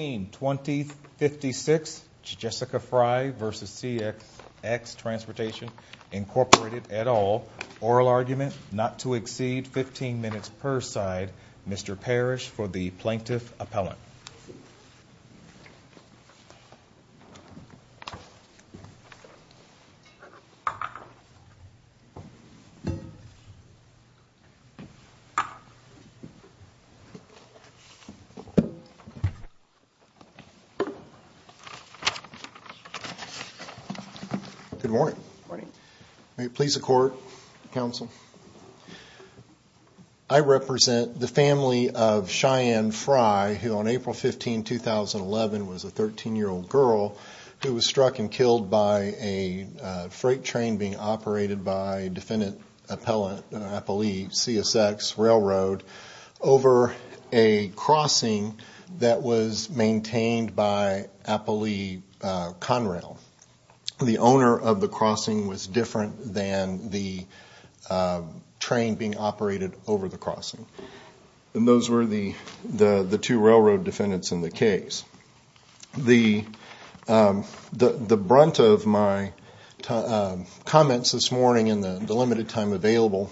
2056 Jessica Frye v. CSX Transportation Incorporated et al. Oral argument not to exceed 15 minutes per side Mr. Parrish for the plaintiff appellant good morning morning may it be so court counsel I represent the family of Cheyenne Frye who on April 15, 2011 was a 13-year-old girl who was struck and killed by a freight train being operated by defendant appellant I believe CSX Railroad over a crossing that was maintained by Appley Conrail the owner of the crossing was different than the train being operated over the crossing and those were the two railroad defendants in the case the brunt of my comments this morning in the limited time available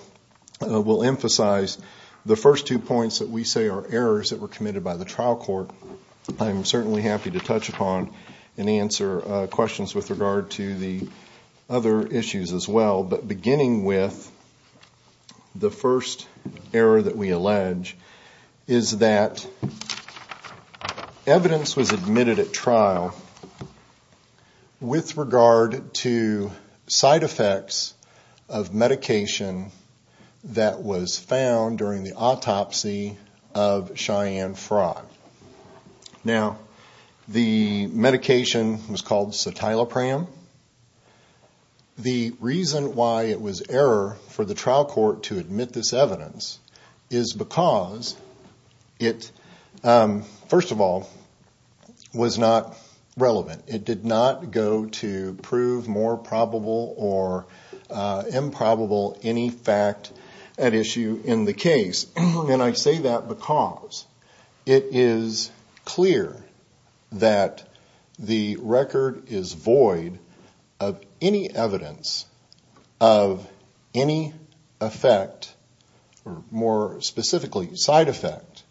will emphasize the first two points that we say are errors that were committed by the trial court I'm certainly happy to touch upon and other issues as well but beginning with the first error that we allege is that evidence was admitted at trial with regard to side effects of medication that was found during the autopsy of Cheyenne Frye now the medication was called cetylopram the reason why it was error for the trial court to admit this evidence is because it first of all was not relevant it did not go to prove more probable or improbable any fact at issue in the case and I say that because it is clear that the record is void of any evidence of any effect or more specifically side effect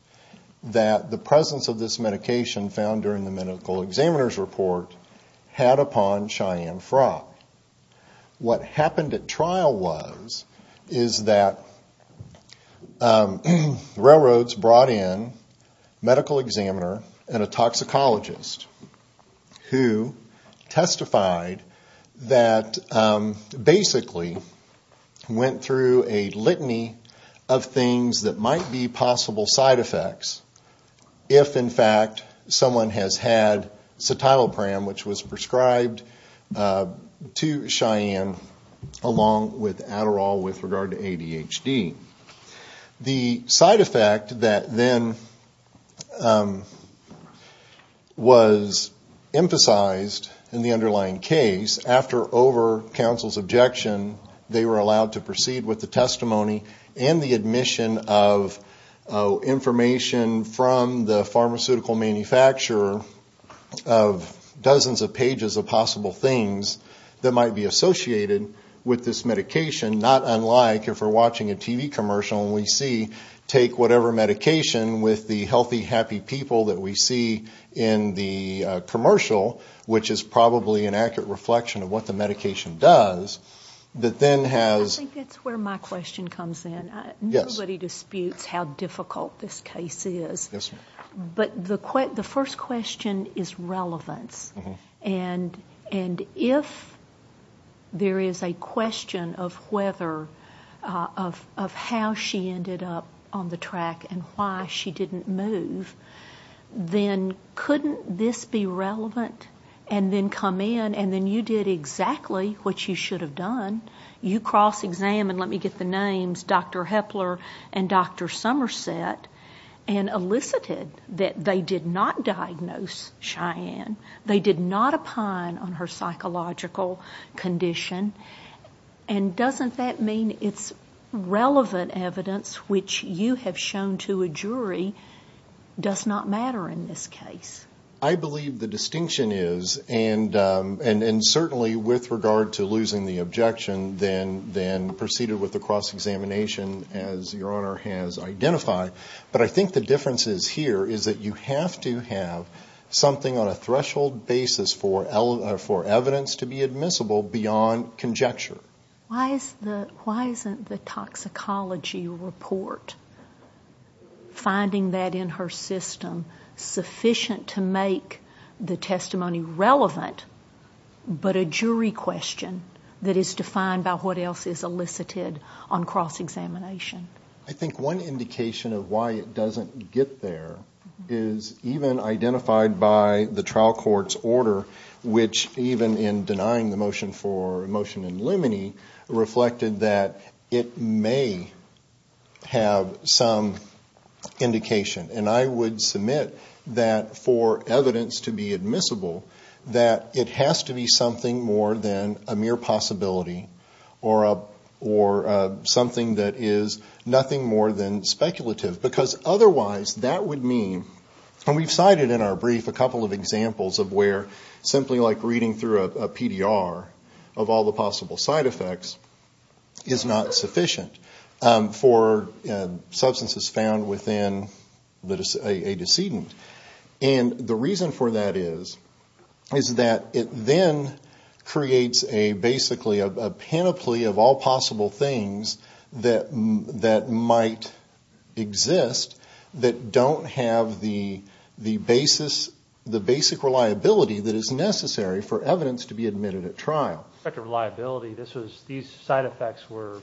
that the presence of this medication found during the medical examiner's report had upon Cheyenne Frye what happened at trial was is that railroads brought in medical examiner and a toxicologist who testified that basically went through a litany of things that might be possible side effects if in fact someone has had cetylopram which was prescribed to Cheyenne along with Adderall with regard to ADHD the side effect that then was emphasized in the underlying case after over counsel's objection they were allowed to proceed with the testimony and the admission of information from the pharmaceutical manufacturer of dozens of pages of possible things that might be associated with this medication not unlike if we're watching a TV commercial we see take whatever medication with the healthy happy people that we see in the commercial which is probably an accurate reflection of what the medication does that then has where my question comes in nobody disputes how difficult this case is but the first question is relevance and and if there is a question of whether of how she ended up on the track and why she didn't move then couldn't this be relevant and then come in and then you did exactly what you should have done you cross-examined let me get the names dr. Hepler and dr. Somerset and elicited that they did not diagnose Cheyenne they did not opine on her psychological condition and doesn't that mean it's relevant evidence which you have shown to a jury does not matter in this case I believe the distinction is and and and certainly with regard to losing the objection then then proceeded with the cross-examination as your honor has identified but I think the difference is here is that you have to have something on a threshold basis for L for evidence to be admissible beyond conjecture why is the why finding that in her system sufficient to make the testimony relevant but a jury question that is defined by what else is elicited on cross-examination I think one indication of why it doesn't get there is even identified by the trial courts order which even in denying the some indication and I would submit that for evidence to be admissible that it has to be something more than a mere possibility or a or something that is nothing more than speculative because otherwise that would mean and we've cited in our brief a couple of examples of where simply like reading through a PDR of all the possible side effects is not sufficient for substances found within that is a decedent and the reason for that is is that it then creates a basically a panoply of all possible things that that might exist that don't have the the basis the basic reliability that is necessary for evidence to be admitted at trial reliability this was these side effects were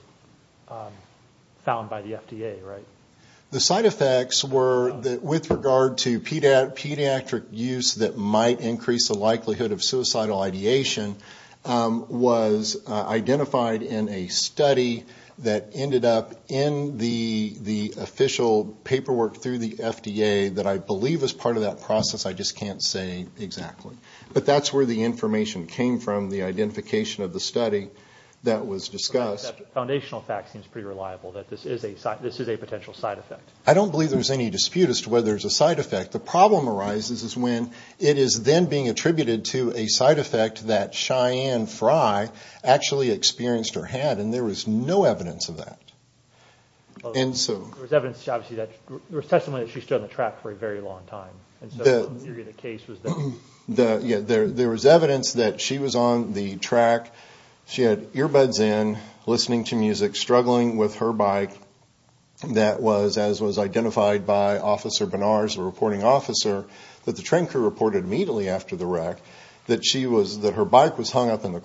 found by the FDA right the side effects were that with regard to Peter pediatric use that might increase the likelihood of suicidal ideation was identified in a study that ended up in the the official paperwork through the FDA that I believe as part of that process I just can't say exactly but that's where the information came from the identification of the study that was discussed foundational fact seems pretty reliable that this is a site this is a potential side effect I don't believe there's any dispute as to whether it's a side effect the problem arises is when it is then being attributed to a side effect that Cheyenne Frye actually experienced or had and there was no evidence of that and so there's evidence obviously that there was testimony that there was evidence that she was on the track she had earbuds in listening to music struggling with her bike that was as was identified by officer Bernard's a reporting officer that the train crew reported immediately after the wreck that she was that her bike was hung up in the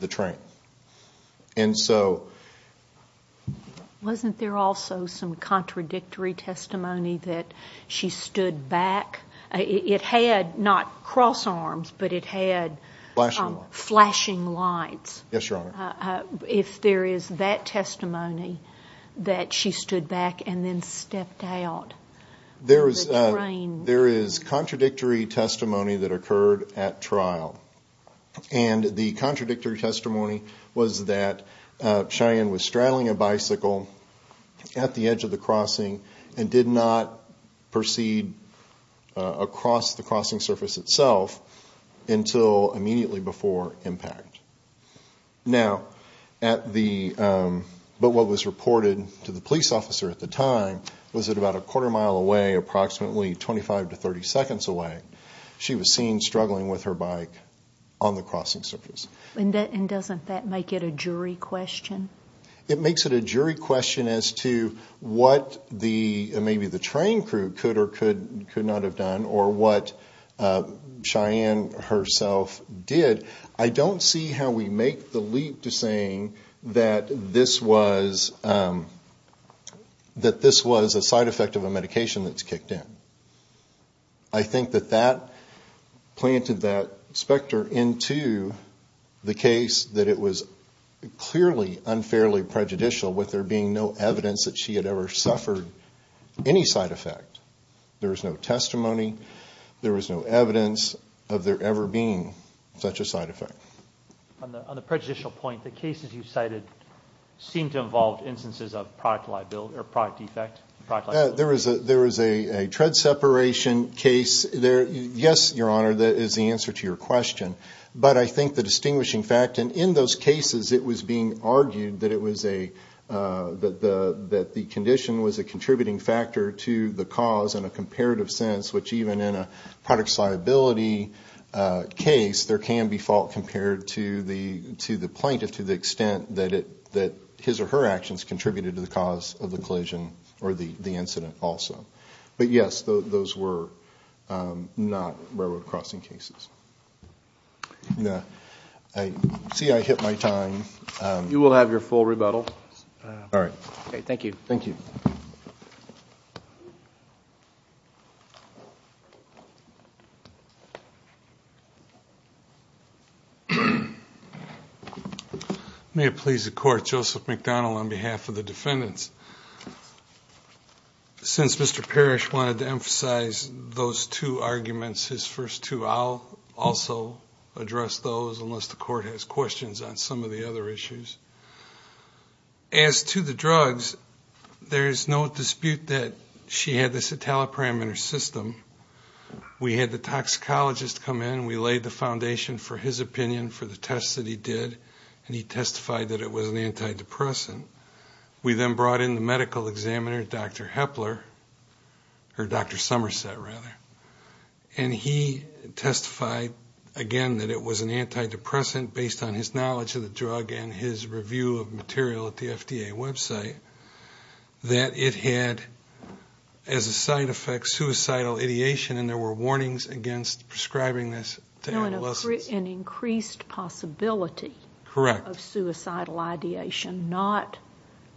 the train and so wasn't there also some contradictory testimony that she stood back it had not cross arms but it had flashing flashing lights yes your honor if there is that testimony that she stood back and then stepped out there is there is contradictory testimony that occurred at trial and the contradictory testimony was that Cheyenne was straddling a bicycle at the edge of the crossing and did not proceed across the crossing surface itself until immediately before impact now at the but what was reported to the police at the time was it about a quarter mile away approximately 25 to 30 seconds away she was seen struggling with her bike on the crossing surface and that and doesn't that make it a jury question it makes it a jury question as to what the maybe the train crew could or could could not have done or what Cheyenne herself did I don't see how we make the leap to saying that this was that this was a side effect of a medication that's kicked in I think that that planted that specter into the case that it was clearly unfairly prejudicial with there being no evidence that she had ever suffered any side effect there was no testimony there was no evidence of there ever being such a side effect on the prejudicial point the cases you cited seemed to involve instances of product liability or product defect there was a there was a tread separation case there yes your honor that is the answer to your question but I think the distinguishing fact and in those cases it was being argued that it was a that the that the condition was a contributing factor to the cause and a comparative sense which even in a product liability case there can be fault compared to the to the plaintiff to the extent that it that his or her actions contributed to the cause of the collision or the the incident also but yes those were not railroad crossing cases no I see I hit my time you will have your full rebuttal all right okay thank you thank you may it please the court Joseph McDonald on behalf of the defendants since mr. Parrish wanted to emphasize those two arguments his first two I'll also address those unless the court has questions on some of the other issues as to the drugs there is no dispute that she had this italic parameter system we had the toxicologist come in we laid the foundation for his opinion for the tests that he did and he testified that it was an antidepressant we then brought in the medical examiner dr. Hepler her dr. Somerset rather and he testified again that it was an antidepressant based on his suicidal ideation and there were warnings against prescribing this an increased possibility correct of suicidal ideation not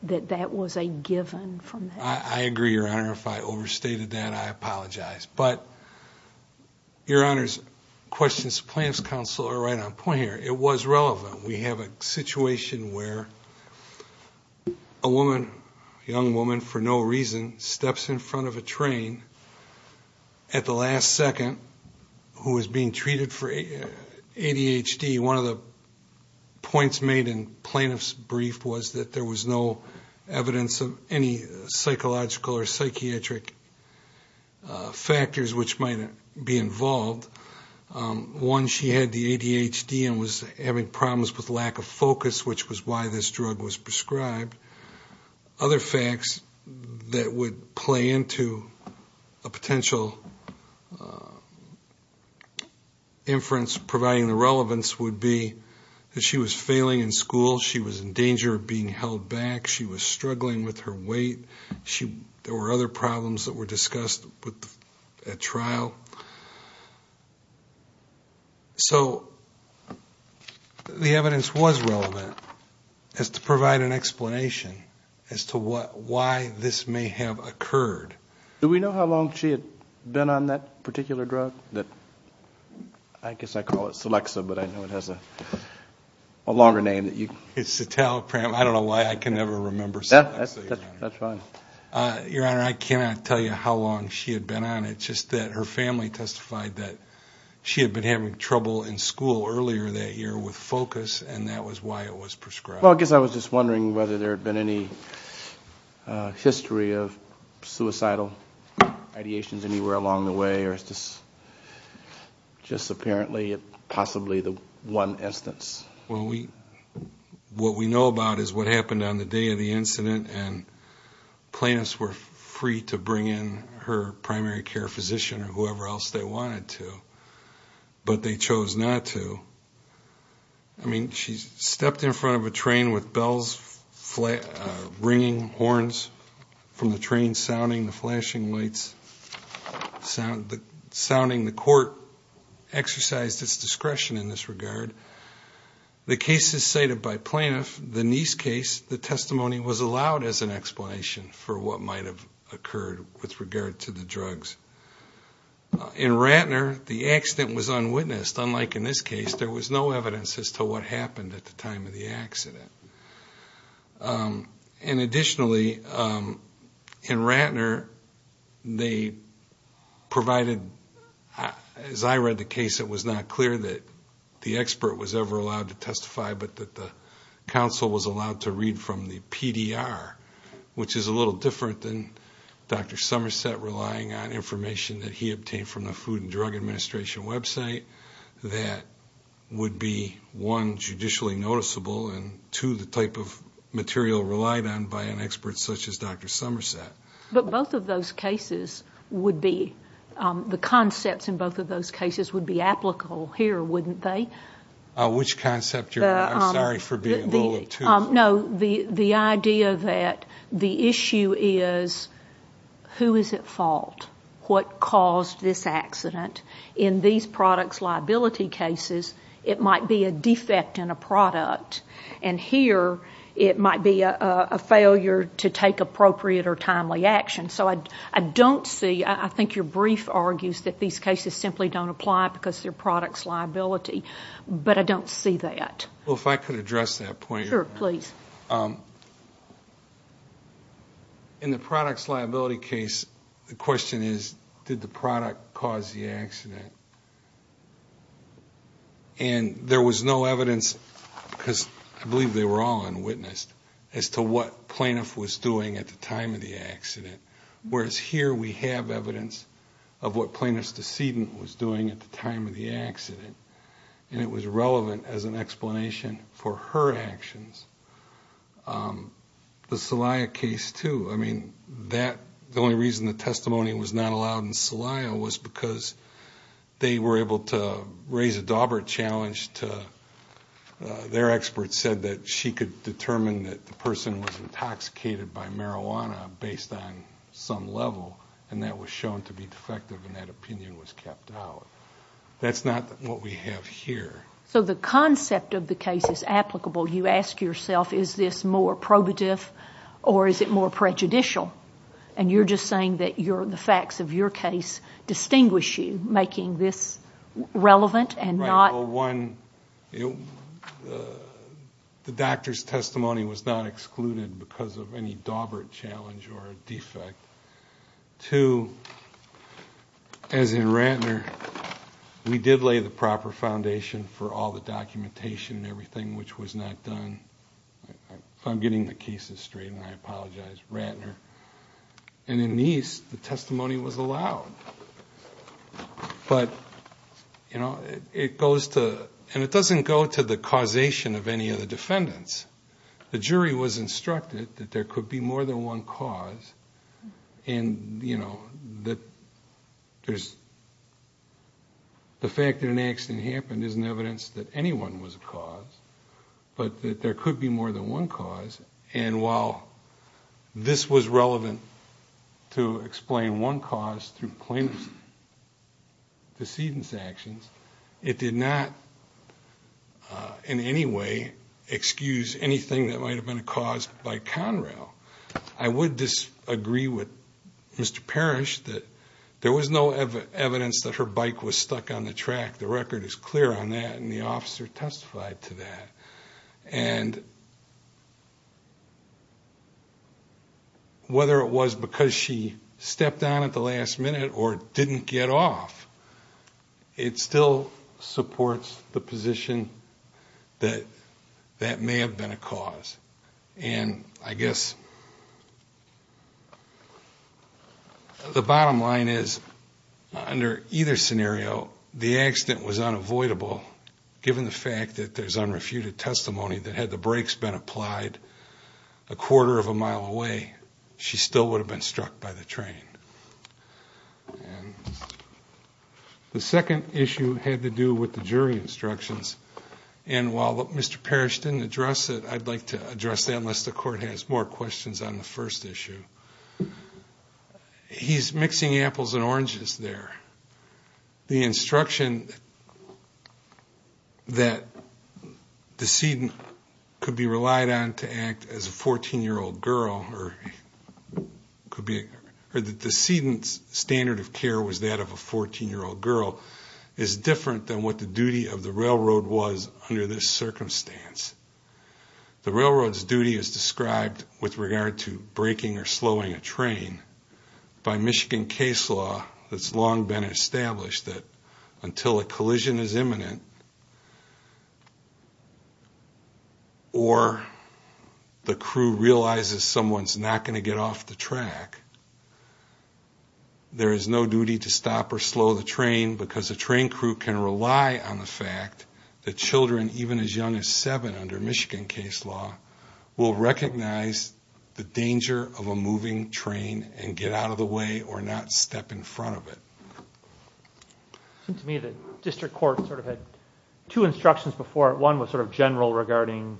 that that was a given from I agree your honor if I overstated that I apologize but your honors questions plans counselor right on point here it was relevant we have a at the last second who was being treated for ADHD one of the points made in plaintiff's brief was that there was no evidence of any psychological or psychiatric factors which might be involved one she had the ADHD and was having problems with lack of focus which was why this drug was inference providing the relevance would be that she was failing in school she was in danger of being held back she was struggling with her weight she there were other problems that were discussed with a trial so the evidence was relevant as to provide an explanation as to what why this may have occurred do we know how long she had been on that particular drug that I guess I call it Selexa but I know it has a longer name that you it's a telepram I don't know why I can never remember that that's fine your honor I cannot tell you how long she had been on it just that her family testified that she had been having trouble in school earlier that year with focus and that was why it was prescribed I guess I was just wondering whether there had been any history of suicidal ideations anywhere along the way or it's just just apparently it possibly the one instance well we what we know about is what happened on the day of the incident and plaintiffs were free to bring in her primary care physician or whoever else they wanted to but they chose not to I mean she's stepped in front of a train with bells flat ringing horns from the train sounding the flashing lights sound the sounding the court exercised its discretion in this regard the case is cited by plaintiff the niece case the testimony was allowed as an explanation for what might have occurred with regard to the drugs in Ratner the accident was unwitnessed unlike in this case there was no evidence as to what happened at the time of the accident and additionally in Ratner they provided as I read the case it was not clear that the expert was ever allowed to testify but that the council was allowed to read from the PDR which is a little different than dr. Somerset relying on information that he obtained from the Food and Drug Administration website that would be one judicially noticeable and to the type of material relied on by an expert such as dr. Somerset but both of those cases would be the concepts in both of those cases would be applicable here wouldn't they which concept you're sorry for being no the the idea that the issue is who is at fault what caused this accident in these products liability cases it might be a defect in a product and here it might be a failure to take appropriate or timely action so I don't see I think your brief argues that these cases simply don't apply because their in the products liability case the question is did the product cause the accident and there was no evidence because I believe they were all unwitnessed as to what plaintiff was doing at the time of the accident whereas here we have evidence of what plaintiff's decedent was doing at the time of the accident and it was relevant as an explanation for her actions the Celia case too I mean that the only reason the testimony was not allowed in Celia was because they were able to raise a dauber challenge to their experts said that she could determine that the person was intoxicated by marijuana based on some level and that was shown to be defective and that opinion was kept out that's not what we have here so the concept of the case is applicable you ask yourself is this more probative or is it more prejudicial and you're just saying that you're the facts of your case distinguish you making this relevant and not one the doctor's testimony was not excluded because of any dauber challenge or a defect to as in Rantner we did lay the proper foundation for all the documentation and everything which was not done I'm getting the cases straight and I apologize Rantner and in these the testimony was allowed but you know it goes to and it doesn't go to the causation of any of the defendants the jury was instructed that there could be more than one cause and you know that there's the fact that an accident happened isn't evidence that anyone was a cause but that there could be more than one cause and while this was relevant to explain one through plaintiff's decedent actions it did not in any way excuse anything that might have been caused by Conrail I would disagree with mr. Parrish that there was no evidence that her bike was stuck on the track the record is clear on that and the officer testified to that and whether it was because she stepped down at the last minute or didn't get off it still supports the position that that may have been a cause and I guess the bottom line is under either scenario the accident was unavoidable given the fact that there's unrefuted testimony that had the brakes been away she still would have been struck by the train and the second issue had to do with the jury instructions and while mr. Parrish didn't address it I'd like to address that unless the court has more questions on the first issue he's mixing apples and oranges there the instruction that decedent could be relied on to act as a fourteen-year-old girl or could be her the decedent's standard of care was that of a fourteen-year-old girl is different than what the duty of the railroad was under this circumstance the railroads duty is described with regard to breaking or slowing a train by Michigan case law that's long been established that until a collision is imminent or the crew realizes someone's not going to get off the track there is no duty to stop or slow the train because a train crew can rely on the fact that children even as young as seven under Michigan case law will recognize the danger of a moving train and get out of the way or not step in front of it to me the district court sort of had two instructions before one was sort of general regarding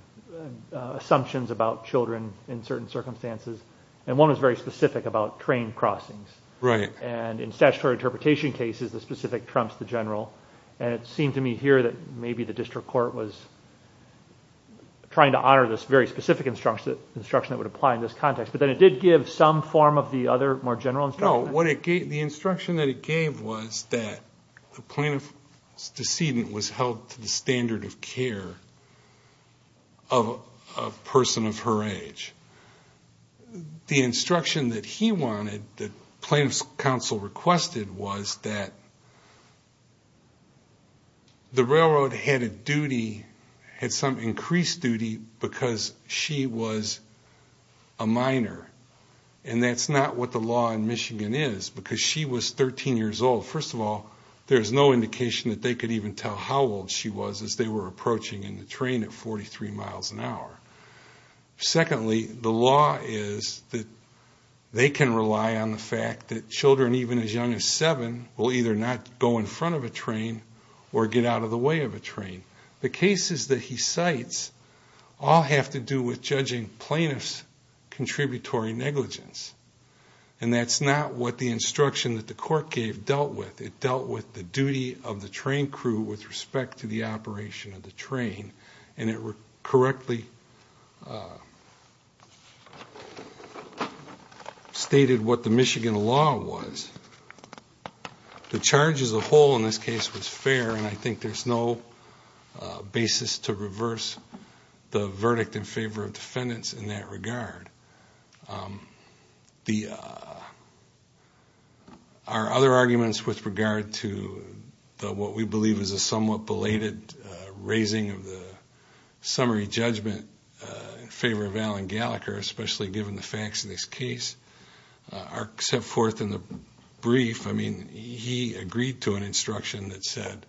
assumptions about children in certain circumstances and one was very specific about train crossings right and in statutory interpretation cases the specific trumps the general and it seemed to me here that maybe the district court was trying to honor this very specific instruction instruction that would apply in this context but then it did give some form of the other more general no what it gave the instruction that it gave was that the plaintiff's decedent was held to the standard of care of a person of her age the instruction that he wanted the plaintiff's counsel requested was that the railroad had a and that's not what the law in Michigan is because she was 13 years old first of all there's no indication that they could even tell how old she was as they were approaching in the train at 43 miles an hour secondly the law is that they can rely on the fact that children even as young as seven will either not go in front of a train or get out of the way of a train the cases that he contributory negligence and that's not what the instruction that the court gave dealt with it dealt with the duty of the train crew with respect to the operation of the train and it were correctly stated what the Michigan law was the charges of hole in this case was fair and I think there's no basis to reverse the verdict in favor of defendants in that regard the our other arguments with regard to what we believe is a somewhat belated raising of the summary judgment in favor of Alan Gallagher especially given the facts in this case are set forth in the brief I mean he agreed to an instruction that said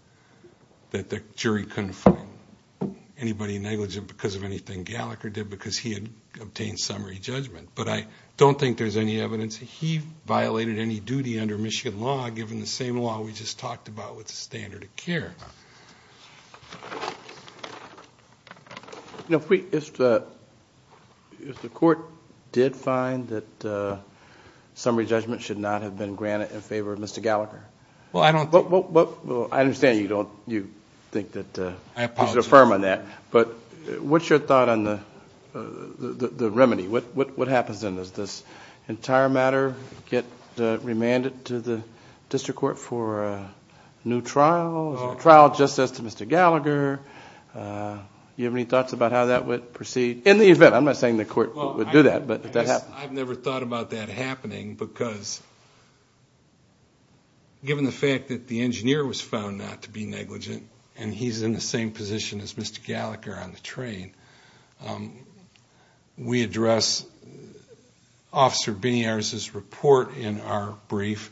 that the jury couldn't find anybody negligent because of anything Gallagher did because he had obtained summary judgment but I don't think there's any evidence he violated any duty under Michigan law given the same law we just talked about with the standard of care you know if we if the if the court did find that summary judgment should not have been granted in favor of mr. Gallagher well I don't look well I understand you don't you think that affirm on that but what's your thought on the the remedy what what happens in this this entire matter get remanded to the district court for a new trial trial justice to mr. Gallagher you have any thoughts about how that would proceed in the event I'm not saying the court would do that but I've never thought about that happening because given the fact that the engineer was found not to be negligent and he's in the same position as mr. Gallagher on the train we address officer being ours is report in our brief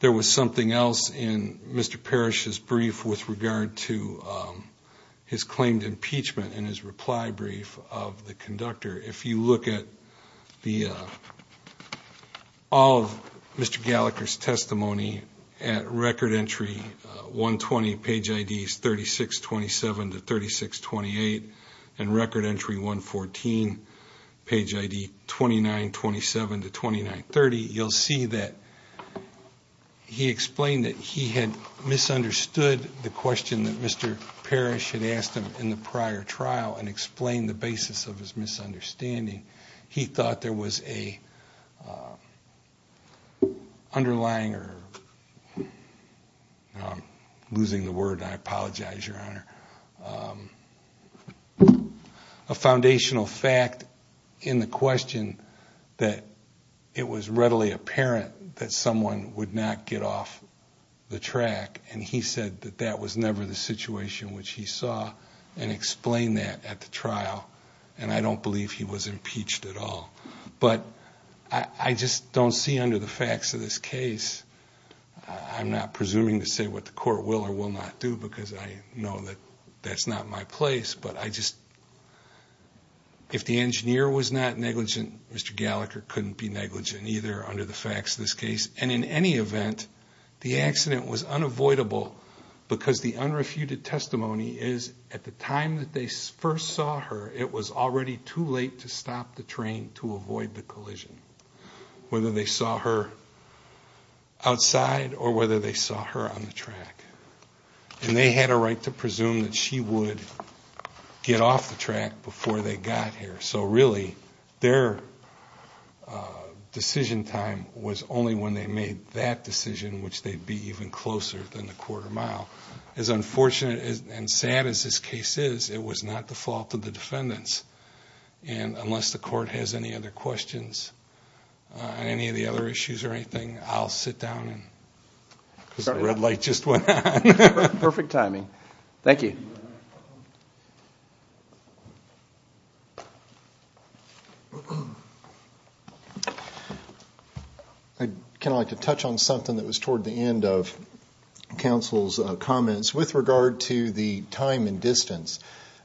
there was something else in mr. Parrish's brief with regard to his claimed impeachment and his reply brief of the conductor if you look at the all of mr. Gallagher's testimony at record entry 120 page IDs 36 27 to 36 28 and record entry 114 page ID 29 27 to 29 30 you'll see that he explained that he had misunderstood the question that mr. Parrish had asked him in the prior trial and explained the basis of his misunderstanding he thought there was a underlying or losing the word I apologize your honor a foundational fact in the question that it was readily apparent that someone would not get off the track and he said that that was never the situation which he saw and explained that at the trial and I don't believe he was impeached at all but I just don't see under the facts of this case I'm not presuming to say what the court will or will not do because I know that that's not my place but I just if the engineer was not negligent mr. Gallagher couldn't be negligent either under the facts of this case and in any event the accident was unavoidable because the unrefuted testimony is at the time that they first saw her it was already too late to stop the train to avoid the collision whether they saw her outside or whether they saw her on the track and they had a right to presume that she would get off the track before they got here so really their decision time was only when they made that decision which they'd be even closer than the quarter-mile as unfortunate and sad as this case is it was not the fault of the defendants and unless the court has any other questions on any of the other issues or anything I'll sit down red light just went perfect timing thank you I'd kind of like to touch on something that was toward the end of counsel's comments with regard to the time and distance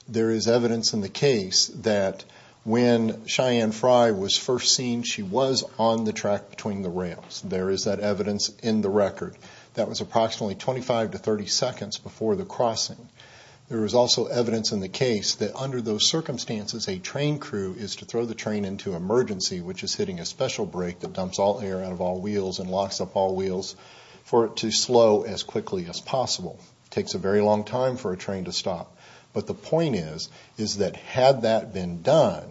there is evidence in the case that when Cheyenne Frye was first seen she was on the track between the rails there is that evidence in the record that was approximately 25 to 30 seconds before the crossing there was also evidence in the case that under those circumstances a train crew is to throw the train into emergency which is hitting a special break that dumps all air out of all wheels and locks up all wheels for it to slow as quickly as possible takes a very long time for a train to stop but the point is is that had that been done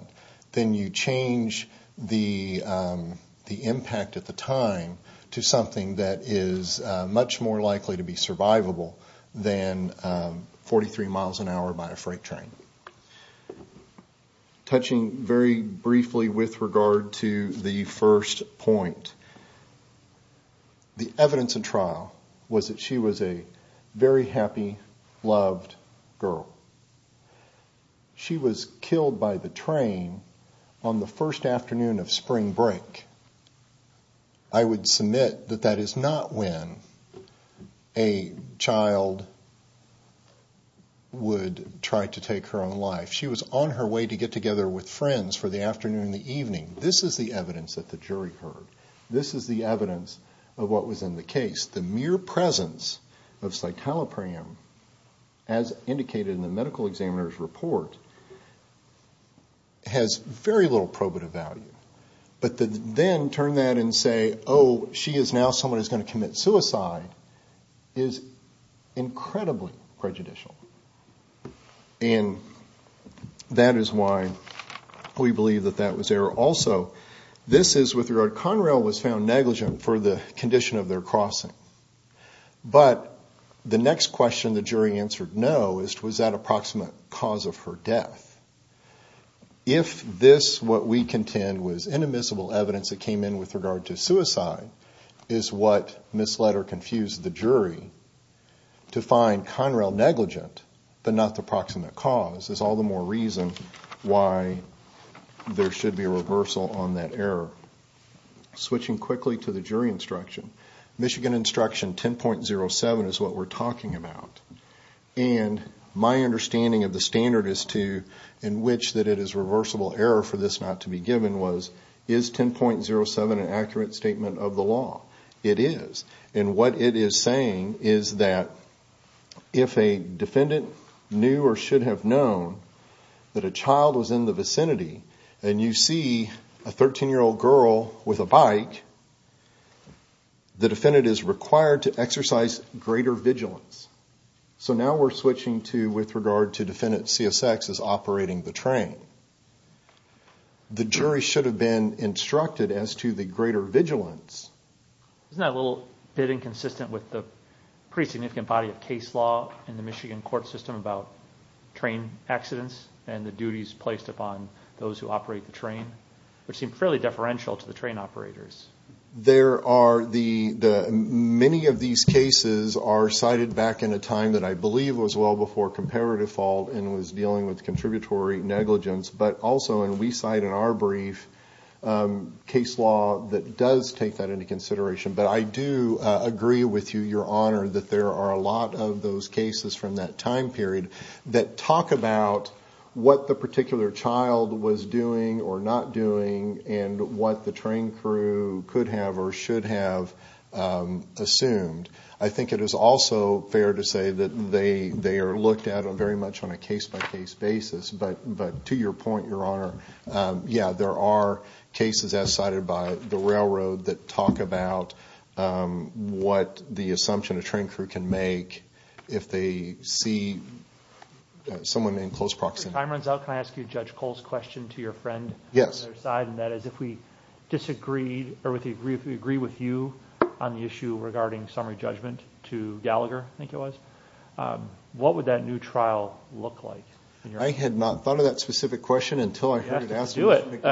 then you change the the impact at the time to something that is much more likely to be survivable than 43 miles an hour by a freight train touching very briefly with regard to the first point the evidence of trial was that she was a very happy loved girl she was killed by the train on the first afternoon of spring break I would submit that that is not when a child would try to take her own life she was on her way to get together with friends for the afternoon the evening this is the evidence that the jury heard this is the evidence of what was in the case the mere presence of citalopram as indicated in the medical examiner's report has very little probative value but then turn that and say oh she is now someone who's going to commit suicide is incredibly prejudicial and that is why we believe that that also this is with regard Conrail was found negligent for the condition of their crossing but the next question the jury answered no is was that approximate cause of her death if this what we contend was inadmissible evidence that came in with regard to suicide is what misled or confused the jury to find Conrail negligent but not the proximate cause is all the more reason why there should be a reversal on that error switching quickly to the jury instruction Michigan instruction 10.07 is what we're talking about and my understanding of the standard is to in which that it is reversible error for this not to be given was is 10.07 an accurate statement of the law it is and what it is saying is that if a defendant knew or should have known that a child was in the vicinity and you see a 13 year old girl with a bike the defendant is required to exercise greater vigilance so now we're switching to with regard to defendant CSX is operating the train the jury should have been instructed as to the greater vigilance it's not a little bit inconsistent with the pretty significant body of case law in the Michigan court system about train accidents and the duties placed upon those who operate the train which seemed fairly deferential to the train operators there are the many of these cases are cited back in a time that I believe was well before comparative fault and was dealing with contributory negligence but also and we cite in our brief case law that does take that into consideration but I do agree with you your honor that there are a lot of those cases from that time period that talk about what the particular child was doing or not doing and what the train crew could have or should have assumed I think it is also fair to say that they they are looked at on very much on a case-by-case basis but but to your point your honor yeah there are cases as cited by the railroad that talk about what the assumption a train crew can make if they see someone in close proximity I'm runs out can I ask you judge Cole's question to your friend yes side and that is if we disagreed or with the agree if we agree with you on the issue regarding summary judgment to Gallagher I think it was what would that new trial look like I had not thought of that specific question until I asked you it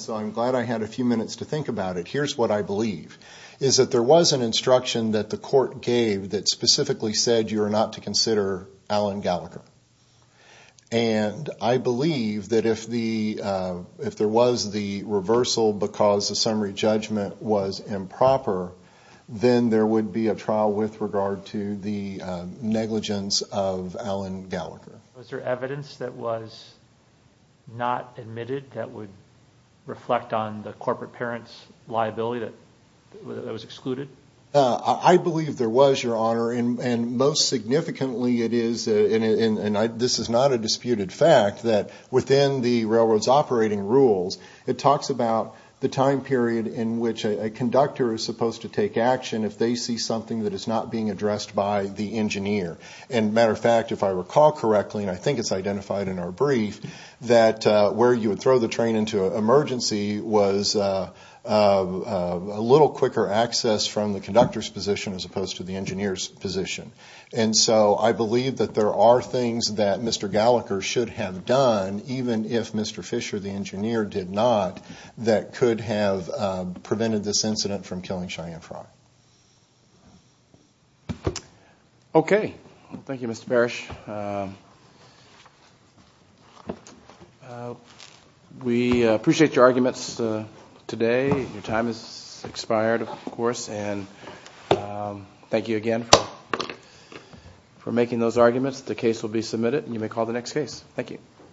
so I'm glad I had a few minutes to think about it here's what I believe is that there was an instruction that the court gave that specifically said you are not to consider Alan Gallagher and I believe that if the if there was the reversal because the summary judgment was improper then there would be a trial with regard to the negligence of Alan Gallagher was there evidence that was not admitted that would reflect on the corporate parents liability that was excluded I believe there was your honor and most significantly it is in and I this is not a disputed fact that within the railroads operating rules it talks about the time period in which a conductor is supposed to take action if they see something that is not being addressed by the engineer and matter of fact if I recall correctly and I think it's identified in our brief that where you would throw the train into an emergency was a little quicker access from the conductors position as opposed to the engineers position and so I believe that there are things that mr. Gallagher should have done even if mr. Fisher the engineer did not that could have prevented this incident from killing Cheyenne okay thank you mr. Parrish we appreciate your arguments today your time is expired of course and thank you again for making those arguments the case will be submitted and you may call the next case thank you